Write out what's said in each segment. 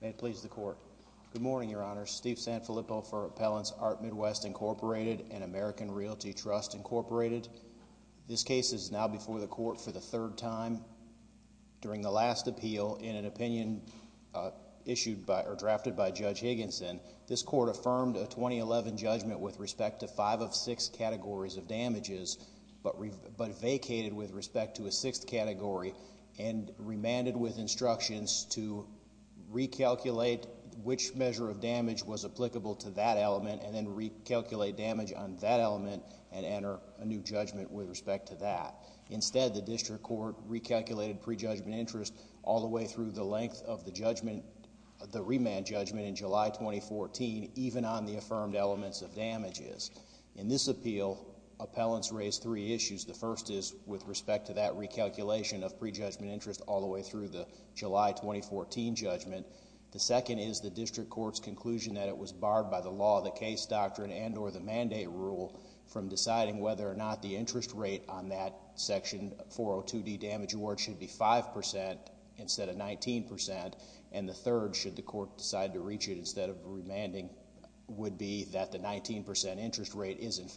May it please the Court. Good morning, Your Honor. Steve Sanfilippo for Appellants Art Midwest, Incorporated and American Realty Trust, Incorporated. This case is now before the Court for the third time. During the last appeal, in an opinion drafted by Judge Higginson, this Court affirmed a 2011 judgment with respect to five of six categories of damages but vacated with respect to a sixth category and remanded with instructions to recalculate which measure of damage was applicable to that element and then recalculate damage on that element and enter a new judgment with respect to that. Instead, the District Court recalculated pre-judgment interest all the way through the length of the judgment, the remand judgment in July 2014, even on the affirmed elements of damages. In this appeal, appellants raised three issues. The first is with respect to that recalculation of pre-judgment interest all the way through the July 2014 judgment. The second is the District Court's conclusion that it was barred by the law, the case doctrine and or the mandate rule from deciding whether or not the interest rate on that section 402D damage award should be 5% instead of 19% and the third should the Court decide to reach it instead of remanding would be that the 19% interest rate is in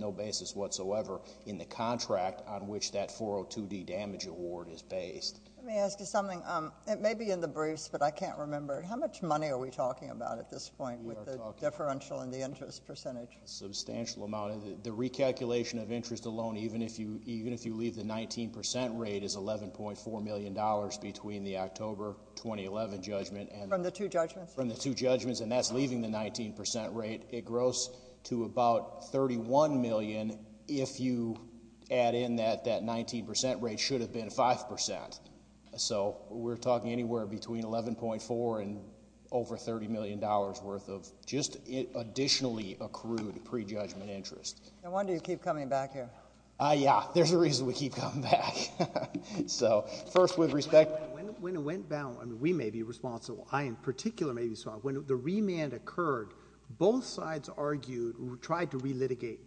no basis whatsoever in the contract on which that 402D damage award is based. Let me ask you something. It may be in the briefs but I can't remember. How much money are we talking about at this point with the differential and the interest percentage? Substantial amount. The recalculation of interest alone, even if you leave the 19% rate is $11.4 million between the October 2011 judgment and the two judgments and that's leaving the 19% rate. It grows to about $31 million if you add in that that 19% rate should have been 5%. So we're talking anywhere between $11.4 and over $30 million worth of just additionally accrued pre-judgment interest. No wonder you keep coming back here. Yeah, there's a reason we keep coming back. So first with respect. When it went down, we may be responsible. I in particular may be responsible. When the remand occurred, both sides argued, tried to re-litigate.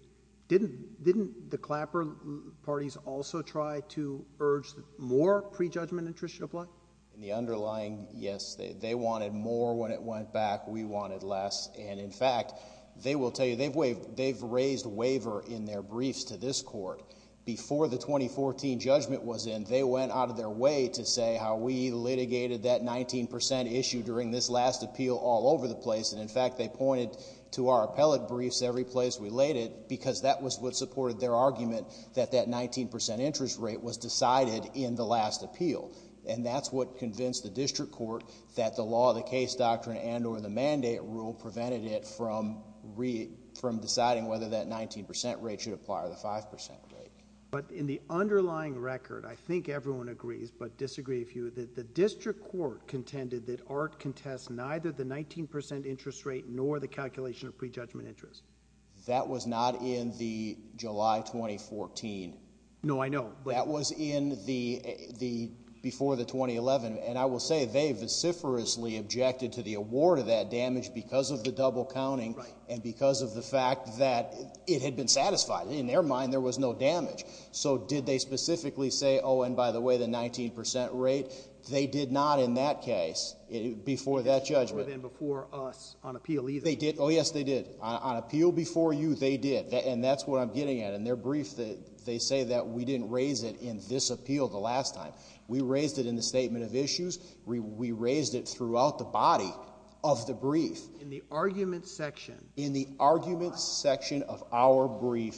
Didn't the Clapper parties also try to urge more pre-judgment interest to apply? In the underlying, yes. They wanted more when it went back. We wanted less and in fact, they will tell you, they've raised a waiver in their briefs to this Court. Before the 2014 judgment was in, they went out of their way to say how we litigated that 19% issue during this last appeal all over the place and in fact, they pointed to our appellate briefs every place we laid it because that was what supported their argument that that 19% interest rate was decided in the last appeal and that's what convinced the District Court that the law, the case doctrine and or the mandate rule prevented it from deciding whether that 19% rate should apply or the 5% rate. But in the underlying record, I think that ART contests neither the 19% interest rate nor the calculation of pre-judgment interest. That was not in the July 2014. No, I know. That was in the before the 2011 and I will say they vociferously objected to the award of that damage because of the double counting and because of the fact that it had been satisfied. In their mind, there was no damage. So did they specifically say, oh and by the way, the 19% rate? They did not in that case before that judgment before us on appeal either. They did. Oh yes, they did on appeal before you. They did and that's what I'm getting at in their brief that they say that we didn't raise it in this appeal the last time we raised it in the statement of issues. We raised it throughout the body of the brief in the argument section in the argument section of our brief.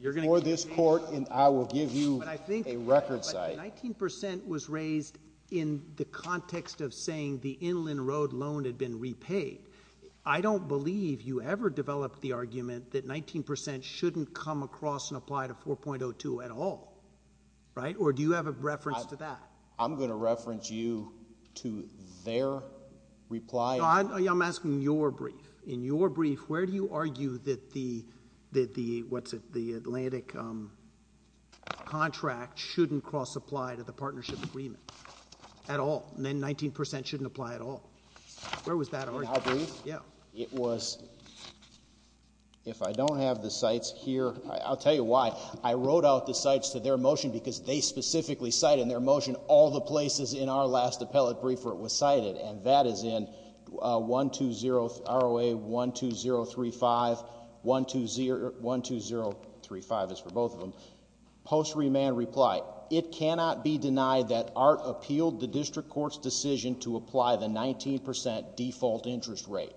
You're going to this court and I will give you a record of that. 19% was raised in the context of saying the Inland Road loan had been repaid. I don't believe you ever developed the argument that 19% shouldn't come across and apply to 4.02 at all, right? Or do you have a reference to that? I'm going to reference you to their reply. I'm asking your brief. In your brief, where do you argue that the that the what's the Atlantic um contract shouldn't cross apply to the partnership agreement at all and then 19% shouldn't apply at all? Where was that argument? In my brief? Yeah. It was if I don't have the sites here, I'll tell you why. I wrote out the sites to their motion because they specifically cite in their motion all the places in our last appellate brief where it was cited. And that is in one two zero R O A one two zero three five one two zero one two zero three five is for both of them. Post remand reply. It cannot be denied that art appealed the district court's decision to apply the 19% default interest rate.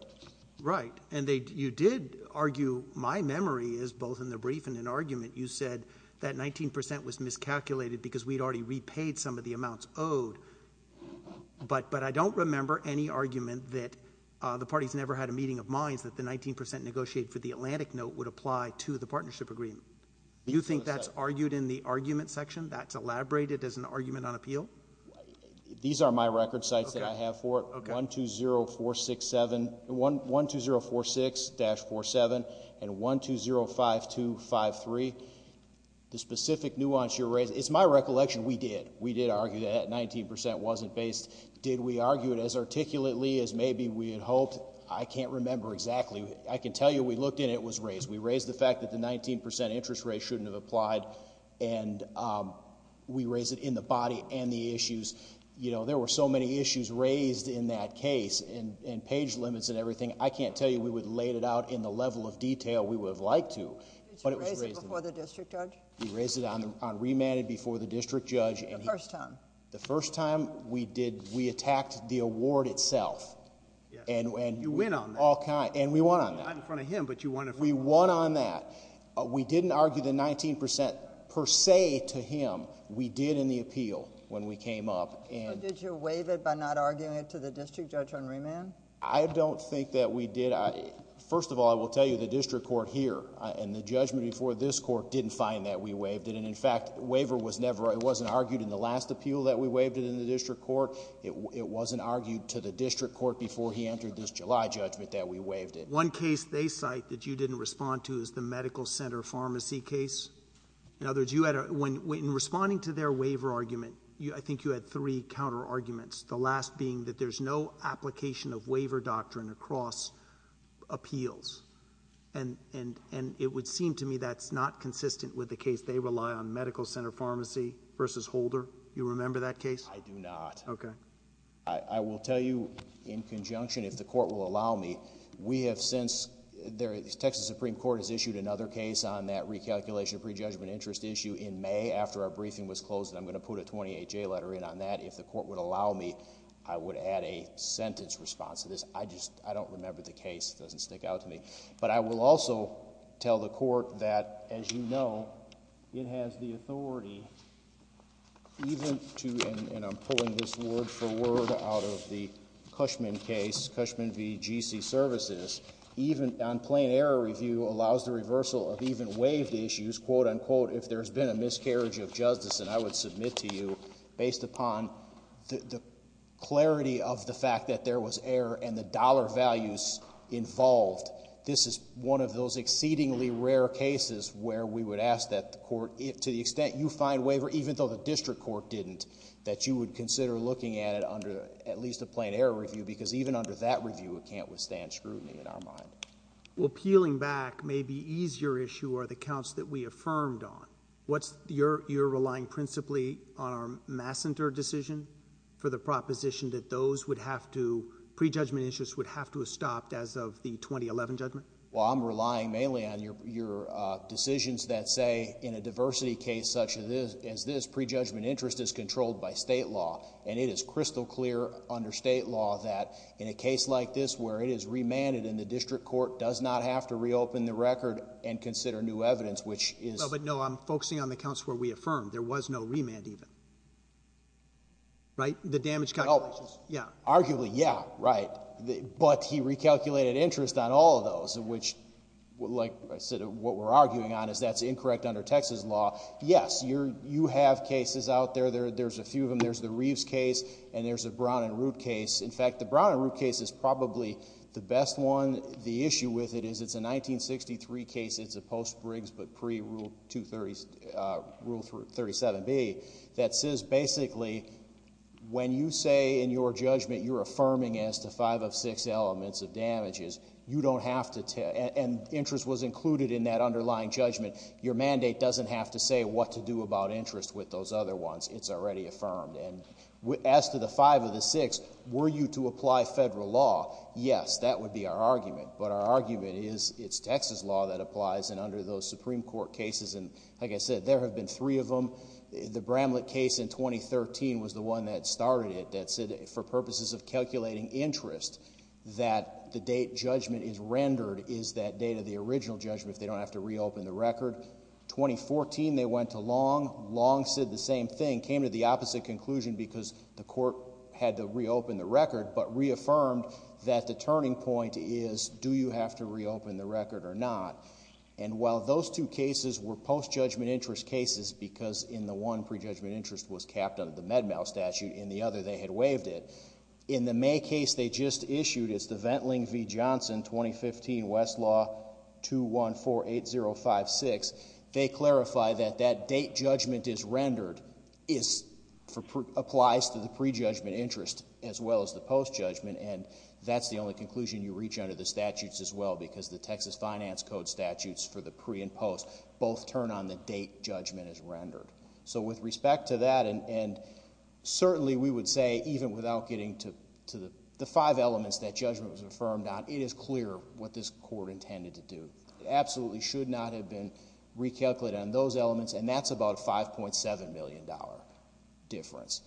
Right. And they you did argue my memory is both in the brief and an argument. You said that 19% was miscalculated because we'd already repaid some of the amounts owed. But but I don't remember any argument that the party's never had a meeting of minds that the 19% negotiate for the Atlantic note would apply to the partnership agreement. You think that's argued in the argument section that's elaborated as an argument on appeal? These are my record sites that I have for one two zero four six seven one one two zero four six dash four seven and one two zero five two five three. The specific nuance you raise is my recollection. We did. We did argue that 19% wasn't based. Did we argue it as articulately as maybe we had hoped? I can't remember exactly. I can tell you we looked in. It was raised. We raised the fact that the 19% interest rate shouldn't have applied and we raise it in the body and the raised in that case and in page limits and everything. I can't tell you we would laid it out in the level of detail we would have liked to. But it was raised before the district judge. He raised it on remanded before the district judge. And the first time the first time we did, we attacked the award itself and when you win on all kind and we want on that in front of him. But you want if we won on that, we didn't argue the 19% per se to him. We did in the appeal when we came up and did you waive it by not arguing it to the district judge on remand? I don't think that we did. First of all, I will tell you the district court here and the judgment before this court didn't find that we waived it. And in fact, waiver was never. It wasn't argued in the last appeal that we waived it in the district court. It wasn't argued to the district court before he entered this July judgment that we waived it. One case they cite that you didn't respond to is the medical center pharmacy case. In other words, you had a when when responding to their waiver argument, I think you had three counter arguments. The last being that there's no application of waiver doctrine across appeals and and and it would seem to me that's not consistent with the case. They rely on medical center pharmacy versus Holder. You remember that case? I do not. Okay. I will tell you in conjunction if the court will allow me, we have since there is Texas Supreme Court has issued another case on that recalculation of prejudgment interest issue in May after our briefing was closed. And I'm going to put a 28 J letter in on that. If the court would allow me, I would add a sentence response to this. I just, I don't remember the case doesn't stick out to me, but I will also tell the court that as you know, it has the authority even to, and I'm pulling this word for word out of the Cushman case, Cushman VGC services, even on plain error review allows the reversal of even waived issues, quote unquote, if there's been a miscarriage of justice and I would submit to you based upon the clarity of the fact that there was error and the dollar values involved. This is one of those exceedingly rare cases where we would ask that the court if to the extent you find waiver, even though the district court didn't, that you would consider looking at it under at least a plain error review, because even under that review, it can't withstand scrutiny in our mind. Well, peeling back may be easier issue or the counts that we affirmed on. What's your, you're relying principally on our massenter decision for the proposition that those would have to prejudgment issues would have to have stopped as of the 2011 judgment. Well, I'm relying mainly on your, your decisions that say in a diversity case such as this, as this prejudgment interest is controlled by state law and it is crystal clear under state law that in a case like this where it is remanded in the district court does not have to reopen the record and consider new evidence, which is, but no, I'm focusing on the counts where we affirmed there was no remand even, right? The damage. Oh yeah. Arguably. Yeah. Right. But he recalculated interest on all of those in which, like I said, what we're arguing on is that's incorrect under Texas law. Yes, you're, you have cases out there. There, there's a few of them. There's the Reeves case and there's a Brown and Root case. In fact, the Brown and Root case is probably the best one. The issue with it is it's a 1963 case. It's a post Briggs, but pre rule two thirties rule for 37 B that says, basically when you say in your judgment, you're affirming as to five of six elements of damages. You don't have to tell, and interest was included in that underlying judgment. Your mandate doesn't have to say what to do about interest with those other ones. It's already affirmed. And as to the five of the six, were you to apply federal law? Yes, that would be our argument. But our argument is it's Texas law that applies and under those Supreme Court cases. And like I said, there have been three of them. The Bramlett case in 2013 was the one that started it. That's it for purposes of calculating interest that the date judgment is rendered. Is that data the original judgment? If they don't have to reopen the record 2014, they went to long, long said the same thing, came to the opposite conclusion because the court had to reopen the record, but reaffirmed that the turning point is, do you have to reopen the record or not? And while those two cases were post judgment interest cases, because in the one prejudgment interest was capped under the Med-Mal statute, in the other they had waived it. In the May case they just issued is the Ventling v. Johnson 2015 Westlaw 2148056. They clarify that that date judgment is rendered is for, applies to the prejudgment interest as well as the post judgment. And that's the only conclusion you reach under the statutes as well because the Texas finance code statutes for the pre and post both turn on the date judgment is rendered. So with respect to that and, and certainly we would say even without getting to, to the, the five elements that judgment was affirmed on, it is clear what this court intended to do. It absolutely should not have been recalculated on those elements. And that's about a $5.7 million difference.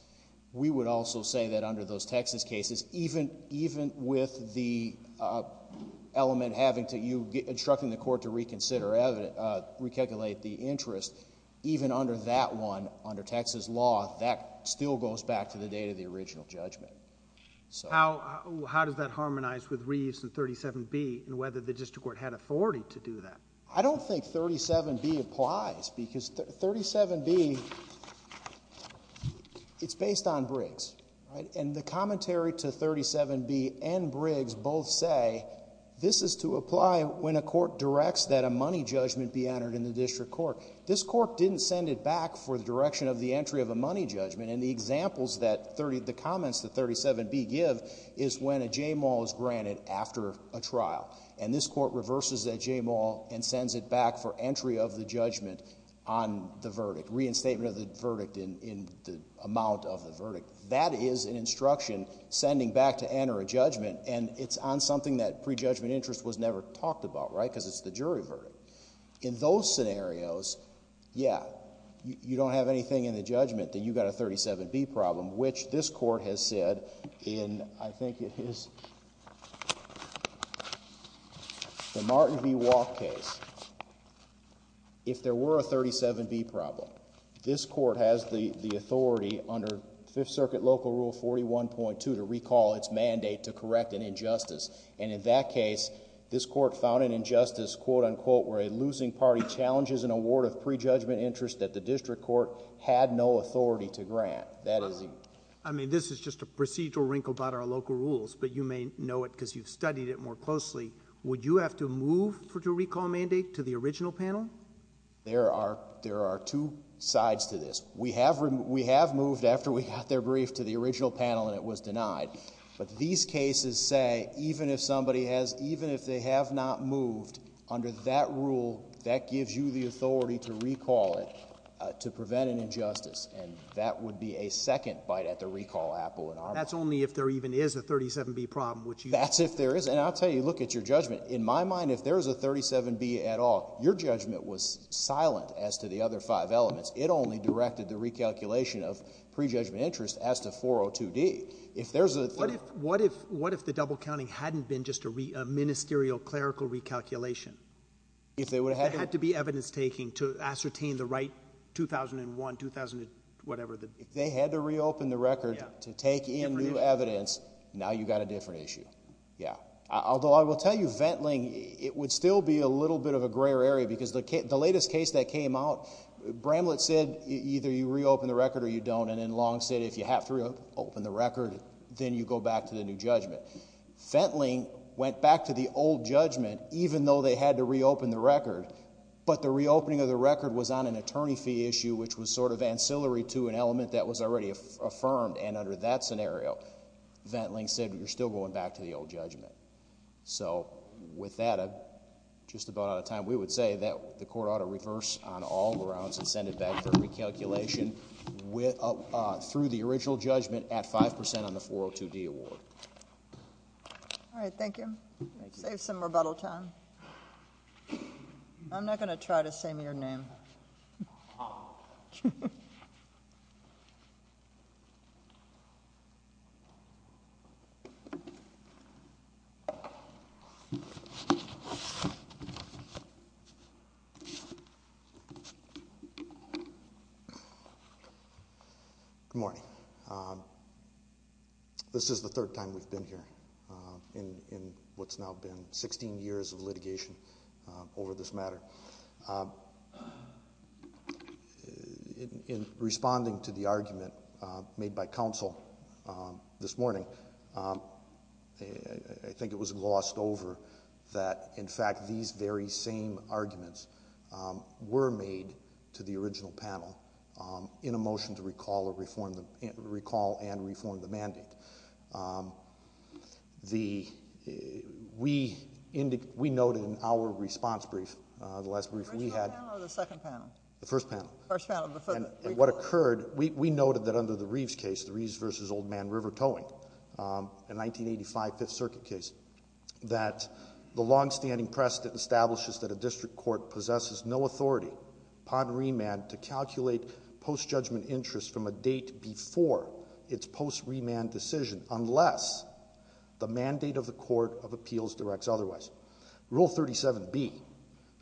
We would also say that under those Texas cases, even, even with the, uh, element having to, you instructing the court to reconsider, uh, recalculate the interest even under that one under Texas law, that still goes back to the date of the original judgment. So. How, how does that harmonize with Reeves and 37B and whether the district court had authority to do that? I don't think 37B applies because 37B, it's based on Briggs, right? And the commentary to 37B and Briggs both say this is to apply when a court directs that a money judgment be entered in the district court. This court didn't send it back for the direction of the entry of a money judgment. And the examples that 30, the comments that 37B give is when a JMAL is granted after a trial. And this court reverses that JMAL and sends it back for entry of the judgment on the verdict, reinstatement of the verdict in, in the amount of the verdict. That is an instruction sending back to enter a judgment. And it's on something that prejudgment interest was never talked about, right? Cause it's the jury verdict in those scenarios. Yeah. You don't have anything in the judgment that you got a 37B problem, which this court has said in, I think it is the Martin V walk case. If there were a 37B problem, this court has the authority under fifth circuit local rule 41.2 to recall its mandate. And in that case, this court found an injustice, quote unquote, where a losing party challenges an award of prejudgment interest that the district court had no authority to grant. That is, I mean, this is just a procedural wrinkle about our local rules, but you may know it cause you've studied it more closely. Would you have to move for to recall mandate to the original panel? There are, there are two sides to this. We have, we have moved after we got their brief to the original panel and it was denied. But these cases say, even if somebody has, even if they have not moved under that rule, that gives you the authority to recall it, uh, to prevent an injustice. And that would be a second bite at the recall apple. And that's only if there even is a 37B problem, which that's if there is. And I'll tell you, look at your judgment. In my mind, if there's a 37B at all, your judgment was silent as to the other five elements. It only directed the recalculation of prejudgment interest as to 402D. If there's a, what if, what if, what if the double counting hadn't been just a re a ministerial clerical recalculation, if they would have had to be evidence taking to ascertain the right 2001, 2000, whatever the, if they had to reopen the record to take in new evidence. Now you've got a different issue. Yeah. Although I will tell you, vent Ling, it would still be a little bit of a gray area because the, the latest case that came out, Bramlett said, either you reopen the record or you don't. And then Long said, if you have to reopen the record, then you go back to the new judgment. Fentling went back to the old judgment, even though they had to reopen the record. But the reopening of the record was on an attorney fee issue, which was sort of ancillary to an element that was already affirmed. And under that scenario, vent Ling said, you're still going back to the old judgment. So with that, uh, just about out of time, we would say that the court ought to reverse on all grounds and send it back for recalculation with, uh, through the original judgment at 5% on the 402 D award. All right. Thank you. Save some rebuttal time. I'm not going to try to say me or name. Good morning. Um, this is the third time we've been here, um, in, in what's now been 16 years of litigation, uh, over this matter. Um, in responding to the argument, uh, made by counsel, um, this morning, um, I think it was glossed over that. In fact, these very same arguments, um, were made to the original panel, um, in a motion to recall or reform the recall and reform the mandate. Um, the, uh, we indicated, we noted in our response brief, uh, the last brief we had, the first panel, first panel, and what occurred, we, we noted that under the Reeves case, the Reeves versus old man river towing, um, in 1985 fifth circuit case, that the longstanding precedent establishes that a district court possesses no authority pod remand to calculate post judgment interest from a date before it's post remand decision, unless the mandate of the court of appeals directs otherwise rule 37 B,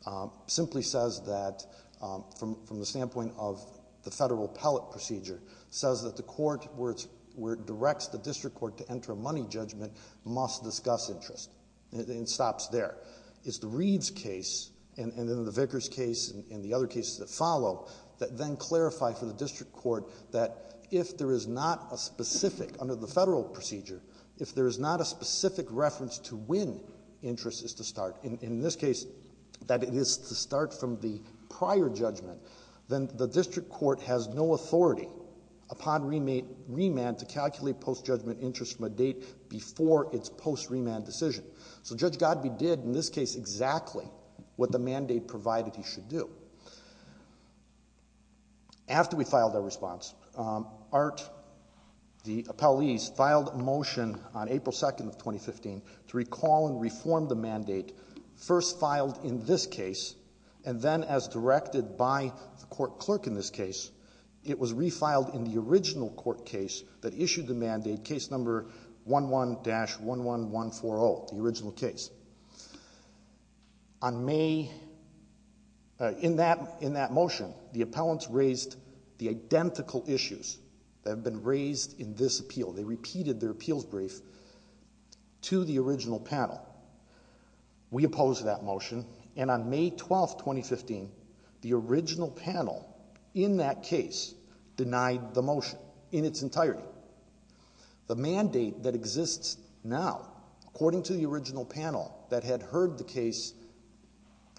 um, simply says that, um, from, from the standpoint of the federal pellet procedure says that the court where it's, where it directs the district court to enter a money judgment must discuss interest, and it stops there. It's the Reeves case, and then the Vickers case, and the other cases that follow, that then clarify for the district court that if there is not a specific, under the federal procedure, if there is not a specific reference to when interest is to start, in, in this case, that it is to start from the prior judgment, then the district court has no authority upon remand to calculate post judgment interest from a date before it's post remand decision. So Judge Godbee did in this case exactly what the mandate provided he should do. After we filed our response, um, Art, the appellees filed a motion on April 2nd of 2015 to recall and reform the mandate, first filed in this case, and then as directed by the original court case that issued the mandate, case number 11-11140, the original case. On May, uh, in that, in that motion, the appellants raised the identical issues that have been raised in this appeal. They repeated their appeals brief to the original panel. We opposed that motion, and on May 12th, 2015, the original panel, in that case, denied the motion. In its entirety. The mandate that exists now, according to the original panel that had heard the case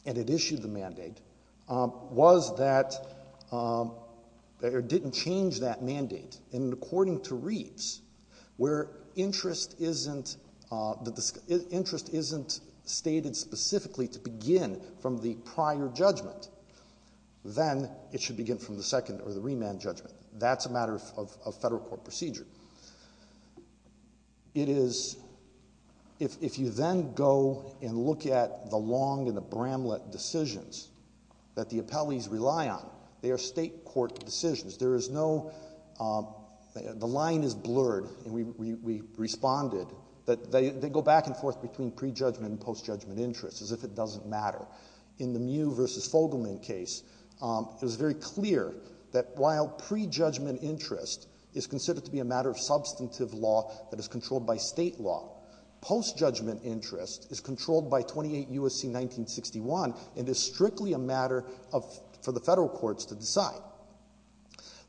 and had issued the mandate, um, was that, um, or didn't change that mandate. And according to Reeves, where interest isn't, uh, the, the interest isn't stated specifically to begin from the prior judgment, then it should begin from the second or the remand judgment. That's a matter of, of, of federal court procedure. It is, if, if you then go and look at the Long and the Bramlett decisions that the appellees rely on, they are state court decisions. There is no, um, the line is blurred, and we, we, we responded that they, they go back and forth between pre-judgment and post-judgment interest, as if it doesn't matter. In the Mew v. Fogelman case, um, it was very clear that while pre-judgment interest is considered to be a matter of substantive law that is controlled by state law, post-judgment interest is controlled by 28 U.S.C. 1961, and is strictly a matter of, for the federal courts to decide.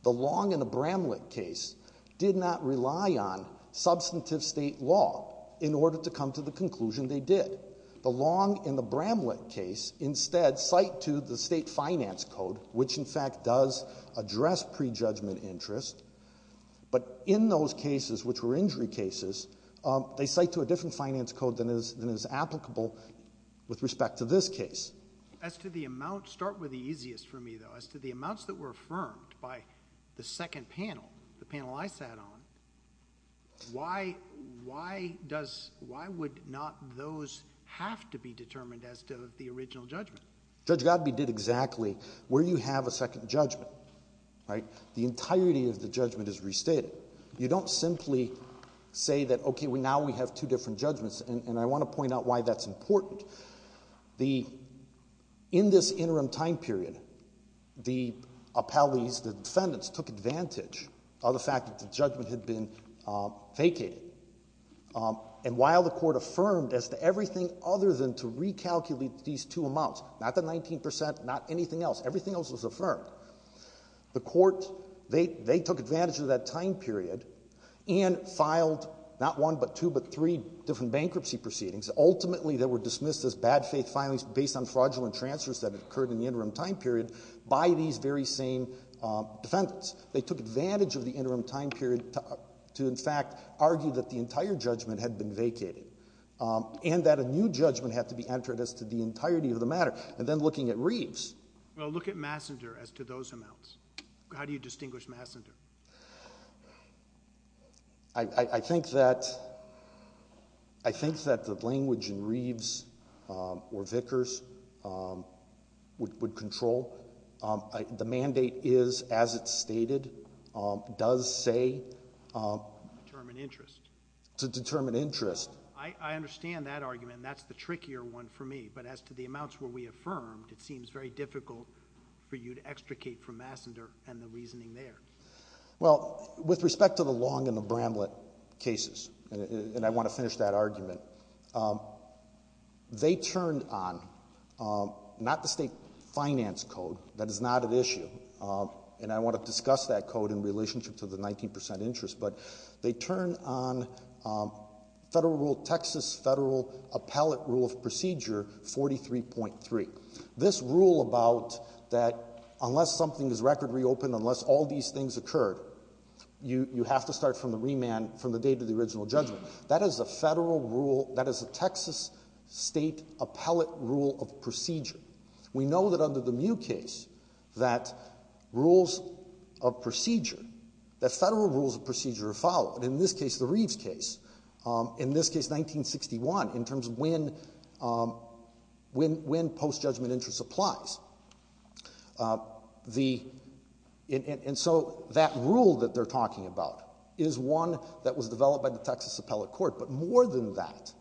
The Long and the Bramlett case did not rely on substantive state law in order to come to the conclusion they did. The Long and the Bramlett case instead cite to the state finance code, which in fact does address pre-judgment interest, but in those cases, which were injury cases, um, they cite to a different finance code than is, than is applicable with respect to this case. As to the amount, start with the easiest for me though, as to the amounts that were affirmed by the second panel, the panel I sat on, why, why does, why would not those have to be determined as to the original judgment? Judge Godby did exactly where you have a second judgment, right? The entirety of the judgment is restated. You don't simply say that, okay, now we have two different judgments and, and I want to point out why that's important. The, in this interim time period, the appellees the defendants took advantage of the fact that the judgment had been vacated. And while the court affirmed as to everything other than to recalculate these two amounts, not the 19%, not anything else, everything else was affirmed. The court, they, they took advantage of that time period and filed not one, but two, but three different bankruptcy proceedings. Ultimately they were dismissed as bad faith filings based on fraudulent transfers that were made by these very same defendants. They took advantage of the interim time period to in fact argue that the entire judgment had been vacated. And that a new judgment had to be entered as to the entirety of the matter. And then looking at Reeves. Well, look at Massander as to those amounts. How do you distinguish Massander? I, I, I think that, I think that the language in Reeves or Vickers would, would control it. I, the mandate is as it's stated, does say Determine interest. To determine interest. I, I understand that argument and that's the trickier one for me. But as to the amounts where we affirmed, it seems very difficult for you to extricate from Massander and the reasoning there. Well, with respect to the Long and the Bramlett cases, and I want to finish that argument, they turned on, not the state finance code, that is not at issue, and I want to discuss that code in relationship to the 19% interest, but they turned on Federal Rule Texas, Federal Appellate Rule of Procedure 43.3. This rule about that unless something is record reopened, unless all these things occurred, you, you have to start from the remand from the date of the original judgment. That is a Federal Rule, that is a Texas State Appellate Rule of Procedure. We know that under the Mew case, that rules of procedure, that Federal Rules of Procedure are followed. In this case, the Reeves case, in this case 1961, in terms of when, when, when post-judgment interest applies. The, and so that rule that they're talking about is one that was developed by the Texas Appellate Court. But more than that,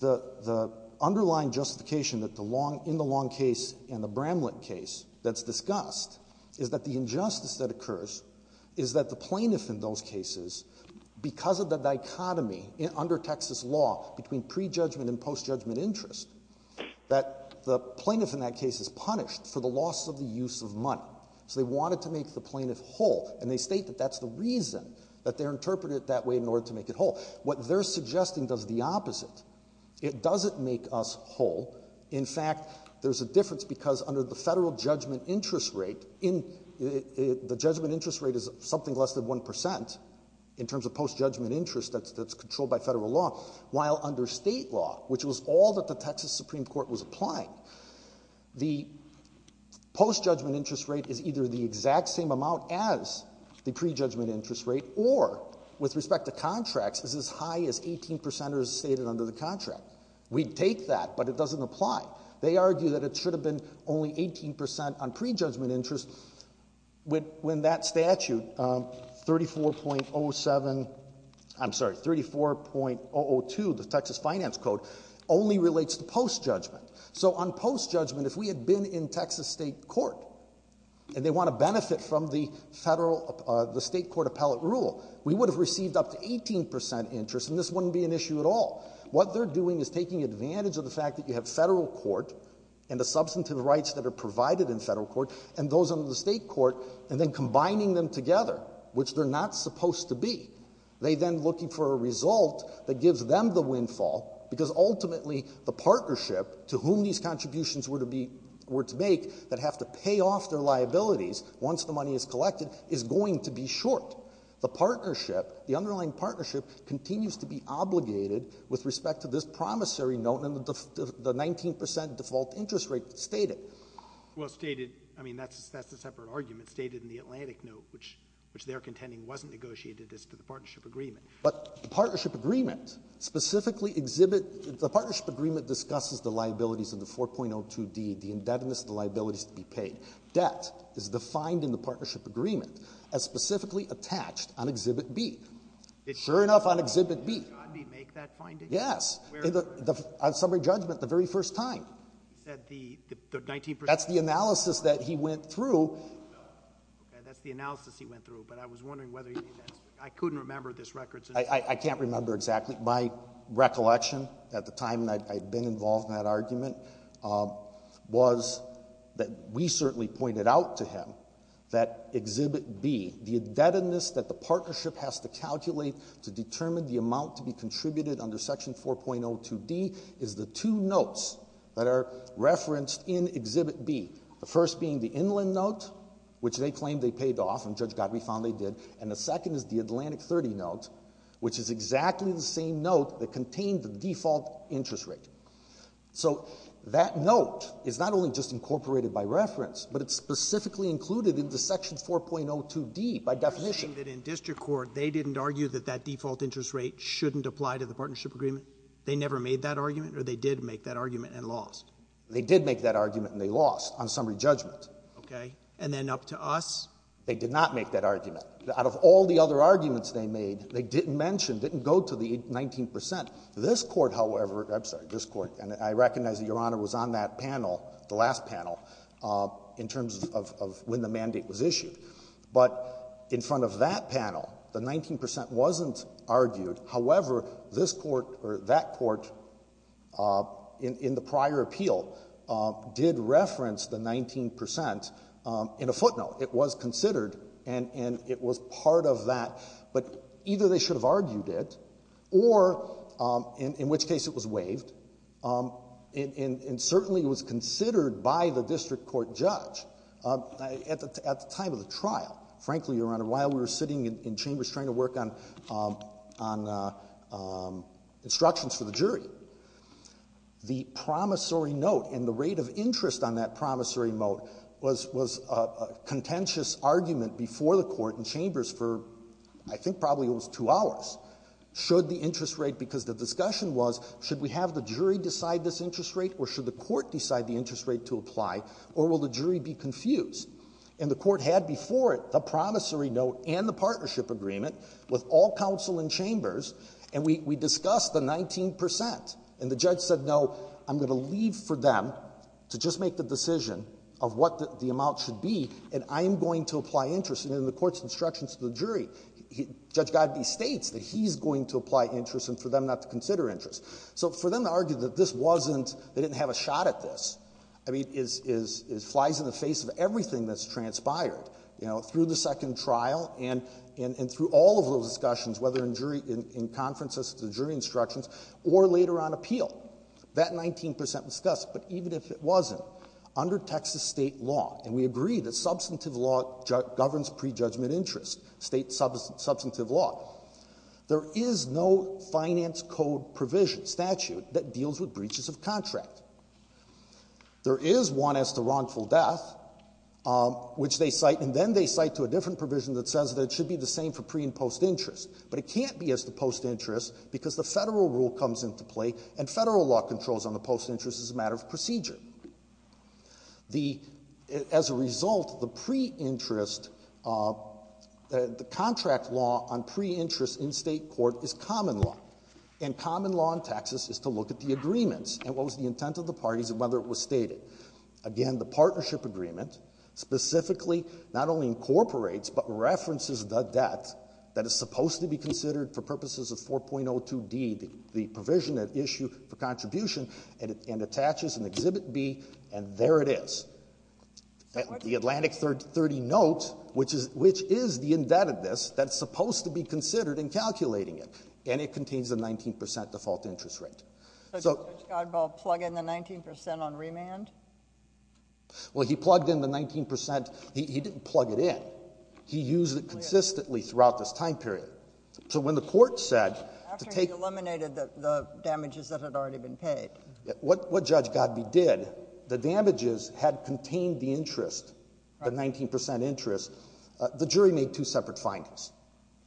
the, the underlying justification that the Long, in the Long case and the Bramlett case that's discussed is that the injustice that occurs is that the plaintiff in those cases, because of the dichotomy under Texas law between pre-judgment and post-judgment interest, that the plaintiff in that case is punished for the loss of the use of money. So they wanted to make the plaintiff whole. And they state that that's the reason that they're interpreting it that way in order to make it whole. What they're suggesting does the opposite. It doesn't make us whole. In fact, there's a difference because under the Federal judgment interest rate, in, the judgment interest rate is something less than 1 percent in terms of post-judgment interest that's, that's controlled by Federal law, while under state law, which was all that the Texas Supreme Court was applying. The post-judgment interest rate is either the exact same amount as the pre-judgment interest rate or, with respect to contracts, is as high as 18 percenters stated under the contract. We'd take that, but it doesn't apply. They argue that it should have been only 18 percent on pre-judgment interest when, when that statute 34.07, I'm sorry, 34.002, the Texas Finance Code, only relates to post-judgment. So on post-judgment, if we had been in Texas state court and they want to benefit from the Federal, the state court appellate rule, we would have received up to 18 percent interest and this wouldn't be an issue at all. What they're doing is taking advantage of the fact that you have Federal court and the substantive rights that are provided in Federal court and those under the state court and then combining them together, which they're not supposed to be. They then looking for a result that gives them the windfall, because ultimately the partnership to whom these contributions were to be, were to make that have to pay off their liabilities once the money is collected is going to be short. The partnership, the underlying partnership, continues to be obligated with respect to this promissory note and the 19 percent default interest rate stated. Well, stated, I mean, that's a separate argument. Stated in the Atlantic note, which they're contending wasn't negotiated as to the partnership agreement. But the partnership agreement specifically exhibit, the partnership agreement discusses the liabilities of the 4.02d, the indebtedness of the liabilities to be paid. Debt is defined in the partnership agreement as specifically attached on Exhibit B. Sure enough, on Exhibit B. Did John D. make that finding? Yes. On summary judgment, the very first time. He said the 19 percent. That's the analysis that he went through. Okay. That's the analysis he went through. But I was wondering whether he did that. I couldn't remember this record. I can't remember exactly. My recollection at the time that I had been involved in that argument was that we certainly pointed out to him that Exhibit B, the indebtedness that the partnership has to calculate to determine the amount to be contributed under Section 4.02d, is the two notes that are referenced in Exhibit B, the first being the Inland note, which they claim they paid off and Judge Gottlieb found they did, and the second is the Atlantic 30 note, which is exactly the same note that contained the default interest rate. So that note is not only just incorporated by reference, but it's specifically included in the Section 4.02d by definition. You're saying that in district court they didn't argue that that default interest rate shouldn't apply to the partnership agreement? They never made that argument or they did make that argument and lost? They did make that argument and they lost on summary judgment. Okay. And then up to us? They did not make that argument. Out of all the other arguments they made, they didn't mention, didn't go to the 19 percent. This Court, however, I'm sorry, this Court, and I recognize that Your Honor was on that panel, the last panel, in terms of when the mandate was issued, but in front of that panel, the 19 percent wasn't argued. However, this Court or that Court in the prior appeal did reference the 19 percent in a footnote. It was considered and it was part of that, but either they should have argued it or, in which case it was waived, and certainly it was considered by the district court judge at the time of the trial. Frankly, Your Honor, while we were sitting in chambers trying to work on instructions for the jury, the promissory note and the rate of interest on that promissory note was a contentious argument before the court in chambers for, I think probably it was two hours, should the interest rate, because the discussion was should we have the jury decide this interest rate or should the court decide the interest rate to apply, or will the jury be confused? And the court had before it the promissory note and the partnership agreement with all counsel in chambers, and we discussed the 19 percent. And the judge said, no, I'm going to leave for them to just make the decision of what the amount should be, and I'm going to apply interest. And in the court's instructions to the jury, Judge Godbee states that he's going to apply interest and for them not to consider interest. So for them to argue that this wasn't, they didn't have a shot at this, I mean, flies in the face of everything that's transpired, you know, through the second trial and through all of those discussions, whether in jury, in conferences to jury instructions or later on appeal. That 19 percent was discussed, but even if it wasn't, under Texas state law, and we agree that substantive law governs prejudgment interest, state substantive law, there is no finance code provision, statute, that deals with breaches of contract. There is one as to wrongful death, which they cite, and then they cite to a different provision that says that it should be the same for pre- and post-interest. But it can't be as to post-interest because the Federal rule comes into play, and Federal law controls on the post-interest as a matter of procedure. The as a result, the pre-interest, the contract law on pre-interest in State court is common law. And common law in Texas is to look at the agreements and what was the intent of the parties and whether it was stated. Again, the partnership agreement specifically not only incorporates, but references the debt that is supposed to be considered for purposes of 4.02d, the provision at issue for contribution, and attaches an Exhibit B, and there it is. The Atlantic 30 note, which is the indebtedness that is supposed to be considered in calculating it, and it contains the 19 percent default interest rate. So did Judge Godball plug in the 19 percent on remand? Well, he plugged in the 19 percent. He didn't plug it in. He used it consistently throughout this time period. So when the Court said to take the damages that had already contained the interest, the 19 percent interest, the jury made two separate findings.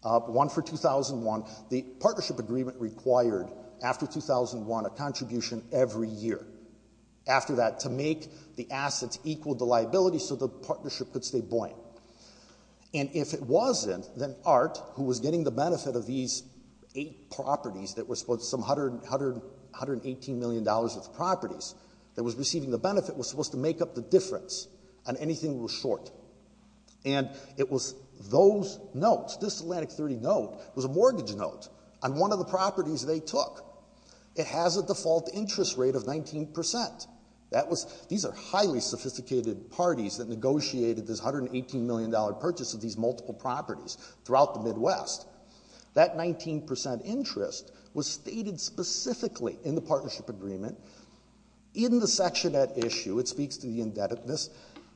One for 2001. The partnership agreement required, after 2001, a contribution every year. After that, to make the assets equal to liability so the partnership could stay buoyant. And if it wasn't, then Art, who was getting the benefit of these eight properties that were supposed to be some $118 million worth of properties, that was receiving the benefit, was supposed to make up the difference on anything that was short. And it was those notes, this Atlantic 30 note, was a mortgage note on one of the properties they took. It has a default interest rate of 19 percent. That was, these are highly sophisticated parties that negotiated this $118 million purchase of these multiple properties throughout the Midwest. That 19 percent interest was stated specifically in the partnership agreement, in the section at issue, it speaks to the indebtedness,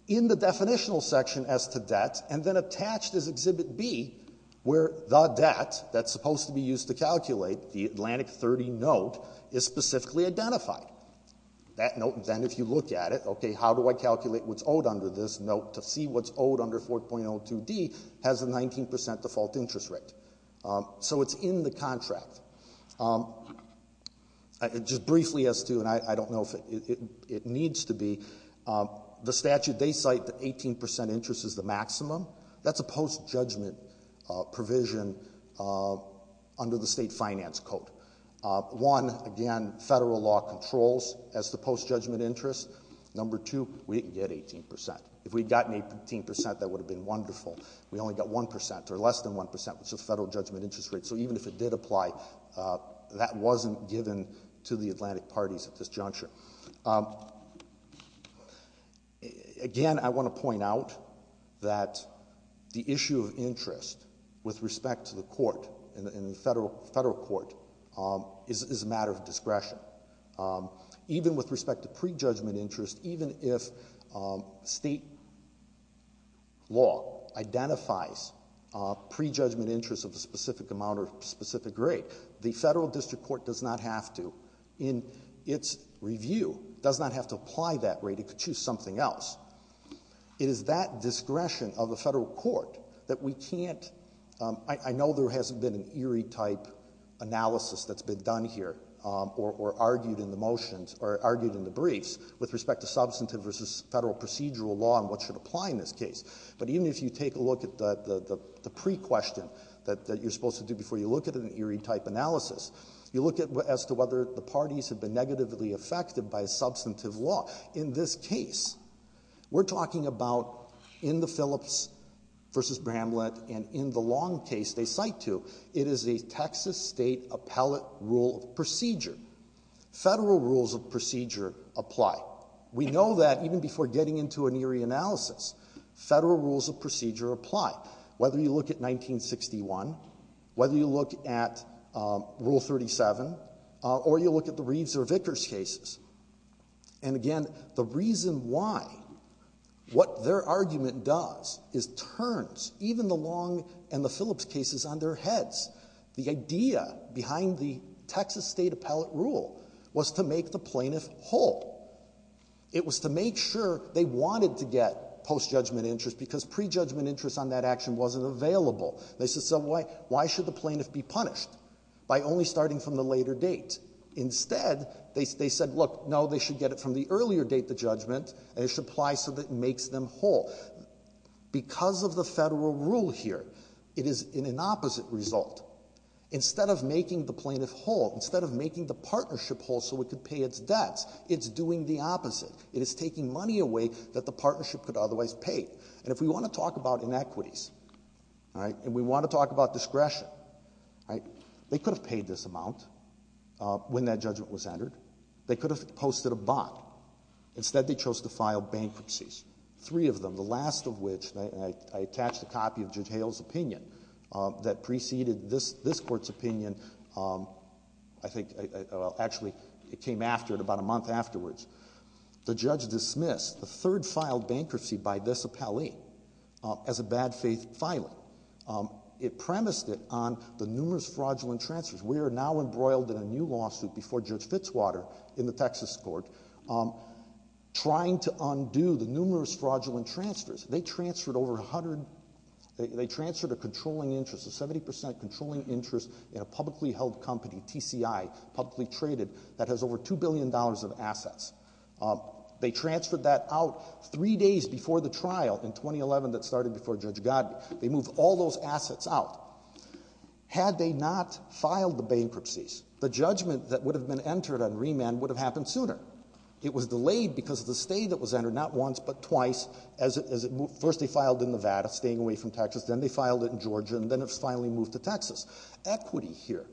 in the definitional section as to debt, and then attached as Exhibit B where the debt that's supposed to be used to calculate, the Atlantic 30 note, is specifically identified. That note, then, if you look at it, okay, how do I calculate what's owed under this note to see what's owed under 4.02d has a 19 percent default interest rate. So it's in the contract. Just briefly as to, and I don't know if it needs to be, the statute, they cite that 18 percent interest is the maximum. That's a post-judgment provision under the state finance code. One, again, federal law controls as to post-judgment interest. Number two, we didn't get 18 percent. If we had gotten 18 percent, that would have been wonderful. We only got 1 percent, or 1.1 percent, which is the federal judgment interest rate. So even if it did apply, that wasn't given to the Atlantic parties at this juncture. Again, I want to point out that the issue of interest with respect to the court, in the federal court, is a matter of discretion. Even with respect to pre-judgment interest, even if state law identifies pre-judgment interest of a specific amount or specific rate, the federal district court does not have to, in its review, does not have to apply that rate. It could choose something else. It is that discretion of the federal court that we can't, I know there hasn't been an Erie-type analysis that's been done here or argued in the motions or argued in the briefs with respect to substantive versus federal procedural law and what should apply in this case. But even if you take a look at the pre-question that you're supposed to do before you look at an Erie-type analysis, you look at as to whether the parties have been negatively affected by substantive law. In this case, we're talking about in the Phillips v. Bramlett and in the Long case they cite to, it is a Texas state appellate rule of procedure. Federal rules of procedure apply. We know that even before getting into an Erie analysis, federal rules of procedure apply, whether you look at 1961, whether you look at Rule 37, or you look at the Reeves or Vickers cases. And again, the reason why, what their argument does is turns even the Long and the Phillips cases on their heads. The idea behind the Texas state appellate rule was to make the plaintiff whole. It was to make sure they wanted to get post-judgment interest because pre-judgment interest on that action wasn't available. They said, so why should the plaintiff be punished by only starting from the later date? Instead, they said, look, no, they should get it from the earlier date, the judgment, and it should apply so that it makes them whole. Because of the Federal rule here, it is an opposite result. Instead of making the plaintiff whole, instead of making the partnership whole so it could pay its debts, it's doing the opposite. It is taking money away that the partnership could otherwise pay. And if we want to talk about inequities, all right, and we want to talk about discretion, all right, they could have paid this standard. They could have posted a bond. Instead, they chose to file bankruptcies, three of them, the last of which, and I attached a copy of Judge Hale's opinion that preceded this Court's opinion. I think, well, actually, it came after it, about a month afterwards. The judge dismissed the third filed bankruptcy by this appellee as a bad faith filing. It premised it on the numerous fraudulent transfers. We are now embroiled in a new lawsuit before Judge Fitzwater in the Texas court, trying to undo the numerous fraudulent transfers. They transferred over a hundred, they transferred a controlling interest, a 70% controlling interest in a publicly held company, TCI, publicly traded, that has over $2 billion of assets. They transferred that out three days before the trial in 2011 that started before Judge Gottlieb. They moved all those assets out. Had they not filed the judgment that would have been entered on remand, it would have happened sooner. It was delayed because of the stay that was entered, not once, but twice, as it moved. First they filed in Nevada, staying away from Texas, then they filed it in Georgia, and then it was finally moved to Texas. Equity here,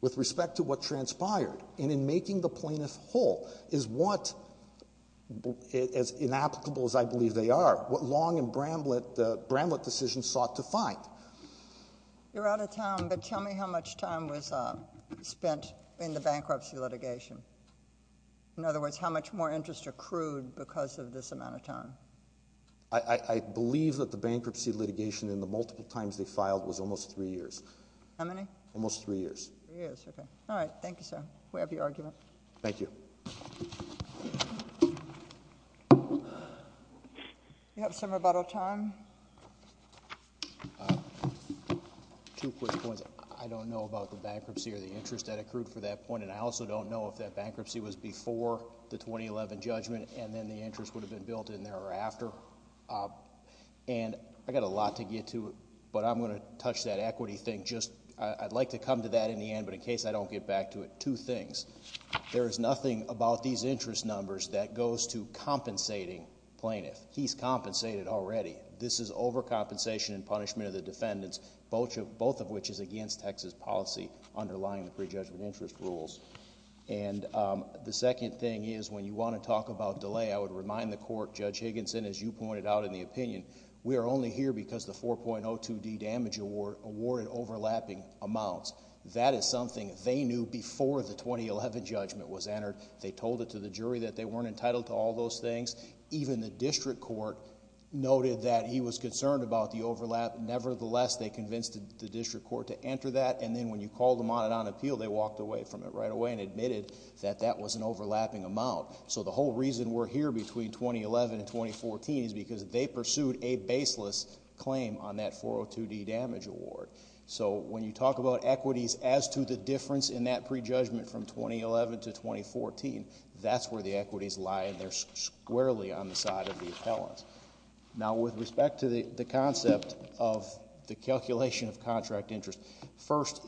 with respect to what transpired, and in making the plaintiff whole, is what, as inapplicable as I believe they are, what Long and Bramlett decisions sought to find. You're out of town, but tell me how much time was spent in the bankruptcy litigation. In other words, how much more interest accrued because of this amount of time? I believe that the bankruptcy litigation in the multiple times they filed was almost three years. How many? Almost three years. Three years, okay. All right. Thank you, sir. We have your argument. Thank you. You have some rebuttal time? Two quick points. I don't know about the bankruptcy or the interest that accrued for that point, and I also don't know if that bankruptcy was before the 2011 judgment, and then the interest would have been built in thereafter. And I've got a lot to get to, but I'm going to touch that equity thing. I'd like to come to that in the end, but in case I don't get back to it, two things. There is nothing about these interest numbers that goes to compensating plaintiff. He's compensated already. This is overcompensation and punishment of the defendants, both of which is against Texas policy underlying the prejudgment interest rules. And the second thing is when you want to talk about delay, I would remind the court, Judge Higginson, as you pointed out in the opinion, we are only here because the 4.02d damage award awarded overlapping amounts. That is something they knew before the 2011 judgment was entered. They told it to the jury that they weren't entitled to all those things. Even the district court noted that he was concerned about the overlap. Nevertheless, they convinced the district court to enter that, and then when you called them on it on appeal, they walked away from it right away and admitted that that was an overlapping amount. So the whole reason we're here between 2011 and 2014 is because they pursued a baseless claim on that 4.02d damage award. So when you talk about equities as to the difference in that prejudgment from 2011 to 2014, that's where the equities lie, and they're squarely on the side of the appellant. Now, with respect to the concept of the calculation of contract interest, first,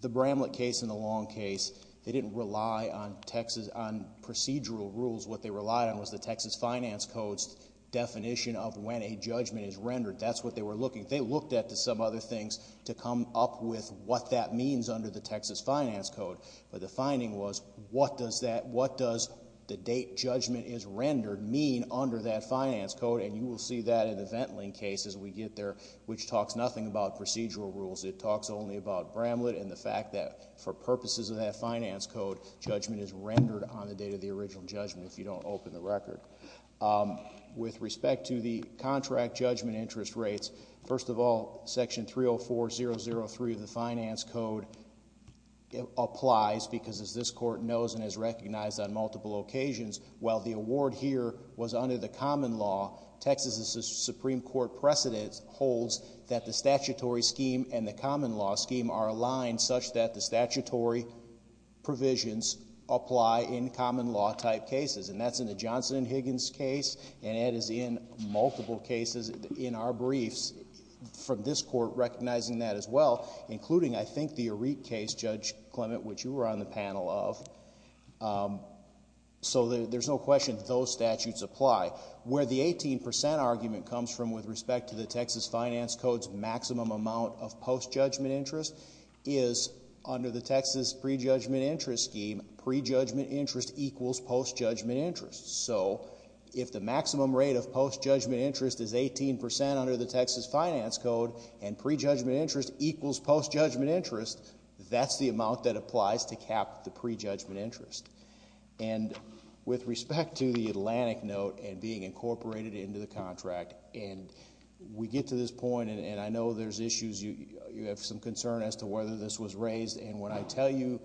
the Bramlett case and the Long case, they didn't rely on procedural rules. What they relied on was the Texas Finance Code's definition of when a judgment is rendered. That's what they were looking. They looked at some other things to come up with what that means under the Texas Finance Code, but the finding was what does the date judgment is rendered mean under that finance code, and you will see that in the Ventling case as we get there, which talks nothing about procedural rules. It talks only about Bramlett and the fact that for purposes of that finance code, judgment is rendered on the date of the original judgment if you don't open the record. With respect to the contract judgment interest rates, first of all, Section 304.003 of the Finance Code applies because, as this Court knows and has recognized on multiple occasions, while the award here was under the common law, Texas's Supreme Court precedent holds that the statutory scheme and the common law scheme are aligned such that the statutory provisions apply in common law type cases, and that's in the Johnson and Higgins case, and that is in multiple cases in our briefs from this Court recognizing that as well, including, I think, the Arete case, Judge Clement, which you were on the panel of. So there's no question that those statutes apply. Where the 18% argument comes from with respect to the Texas Finance Code's maximum amount of post-judgment interest is under the Texas pre-judgment interest scheme, pre-judgment interest equals post-judgment interest. So if the maximum rate of post-judgment interest is 18% under the Texas Finance Code and pre-judgment interest equals post-judgment interest, that's the amount that applies to cap the pre-judgment interest. And with respect to the Atlantic note and being incorporated into the contract, and we get to this point, and I know there's issues, you have some concern as to whether this was raised, and when I tell you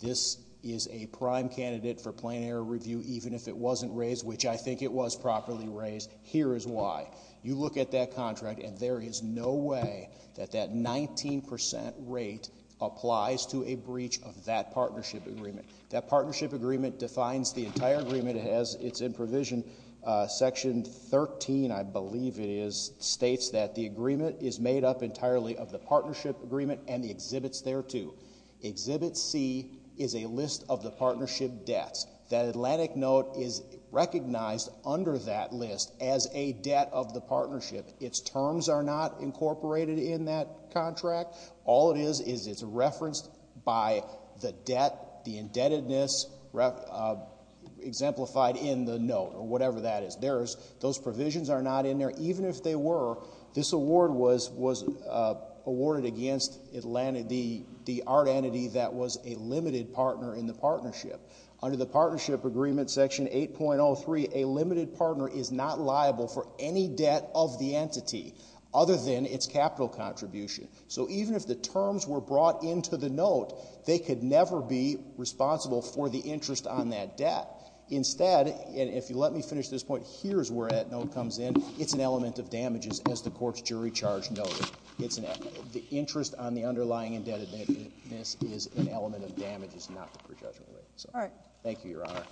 this is a prime candidate for plain error review even if it wasn't raised, which I think it was properly raised, here is why. You look at that contract, and there is no way that that 19% rate applies to a breach of that partnership agreement. That partnership agreement defines the entire agreement as it's in Section 13, I believe it is, states that the agreement is made up entirely of the partnership agreement and the exhibits thereto. Exhibit C is a list of the partnership debts. That Atlantic note is recognized under that list as a debt of the partnership. Its terms are not incorporated in that contract. All it is is it's referenced by the debt, the indebtedness, exemplified in the note or whatever that is. Those provisions are not in there. Even if they were, this award was awarded against the art entity that was a limited partner in the partnership. Under the partnership agreement, Section 8.03, a limited partner is not liable for any debt of the entity other than its capital contribution. So even if the terms were brought into the note, they could never be responsible for the interest on that debt. Instead, and if you let me finish this point, here is where that note comes in. It's an element of damages, as the court's jury charge noted. The interest on the underlying indebtedness is an element of damages, not the prejudgment rate. Thank you, Your Honor.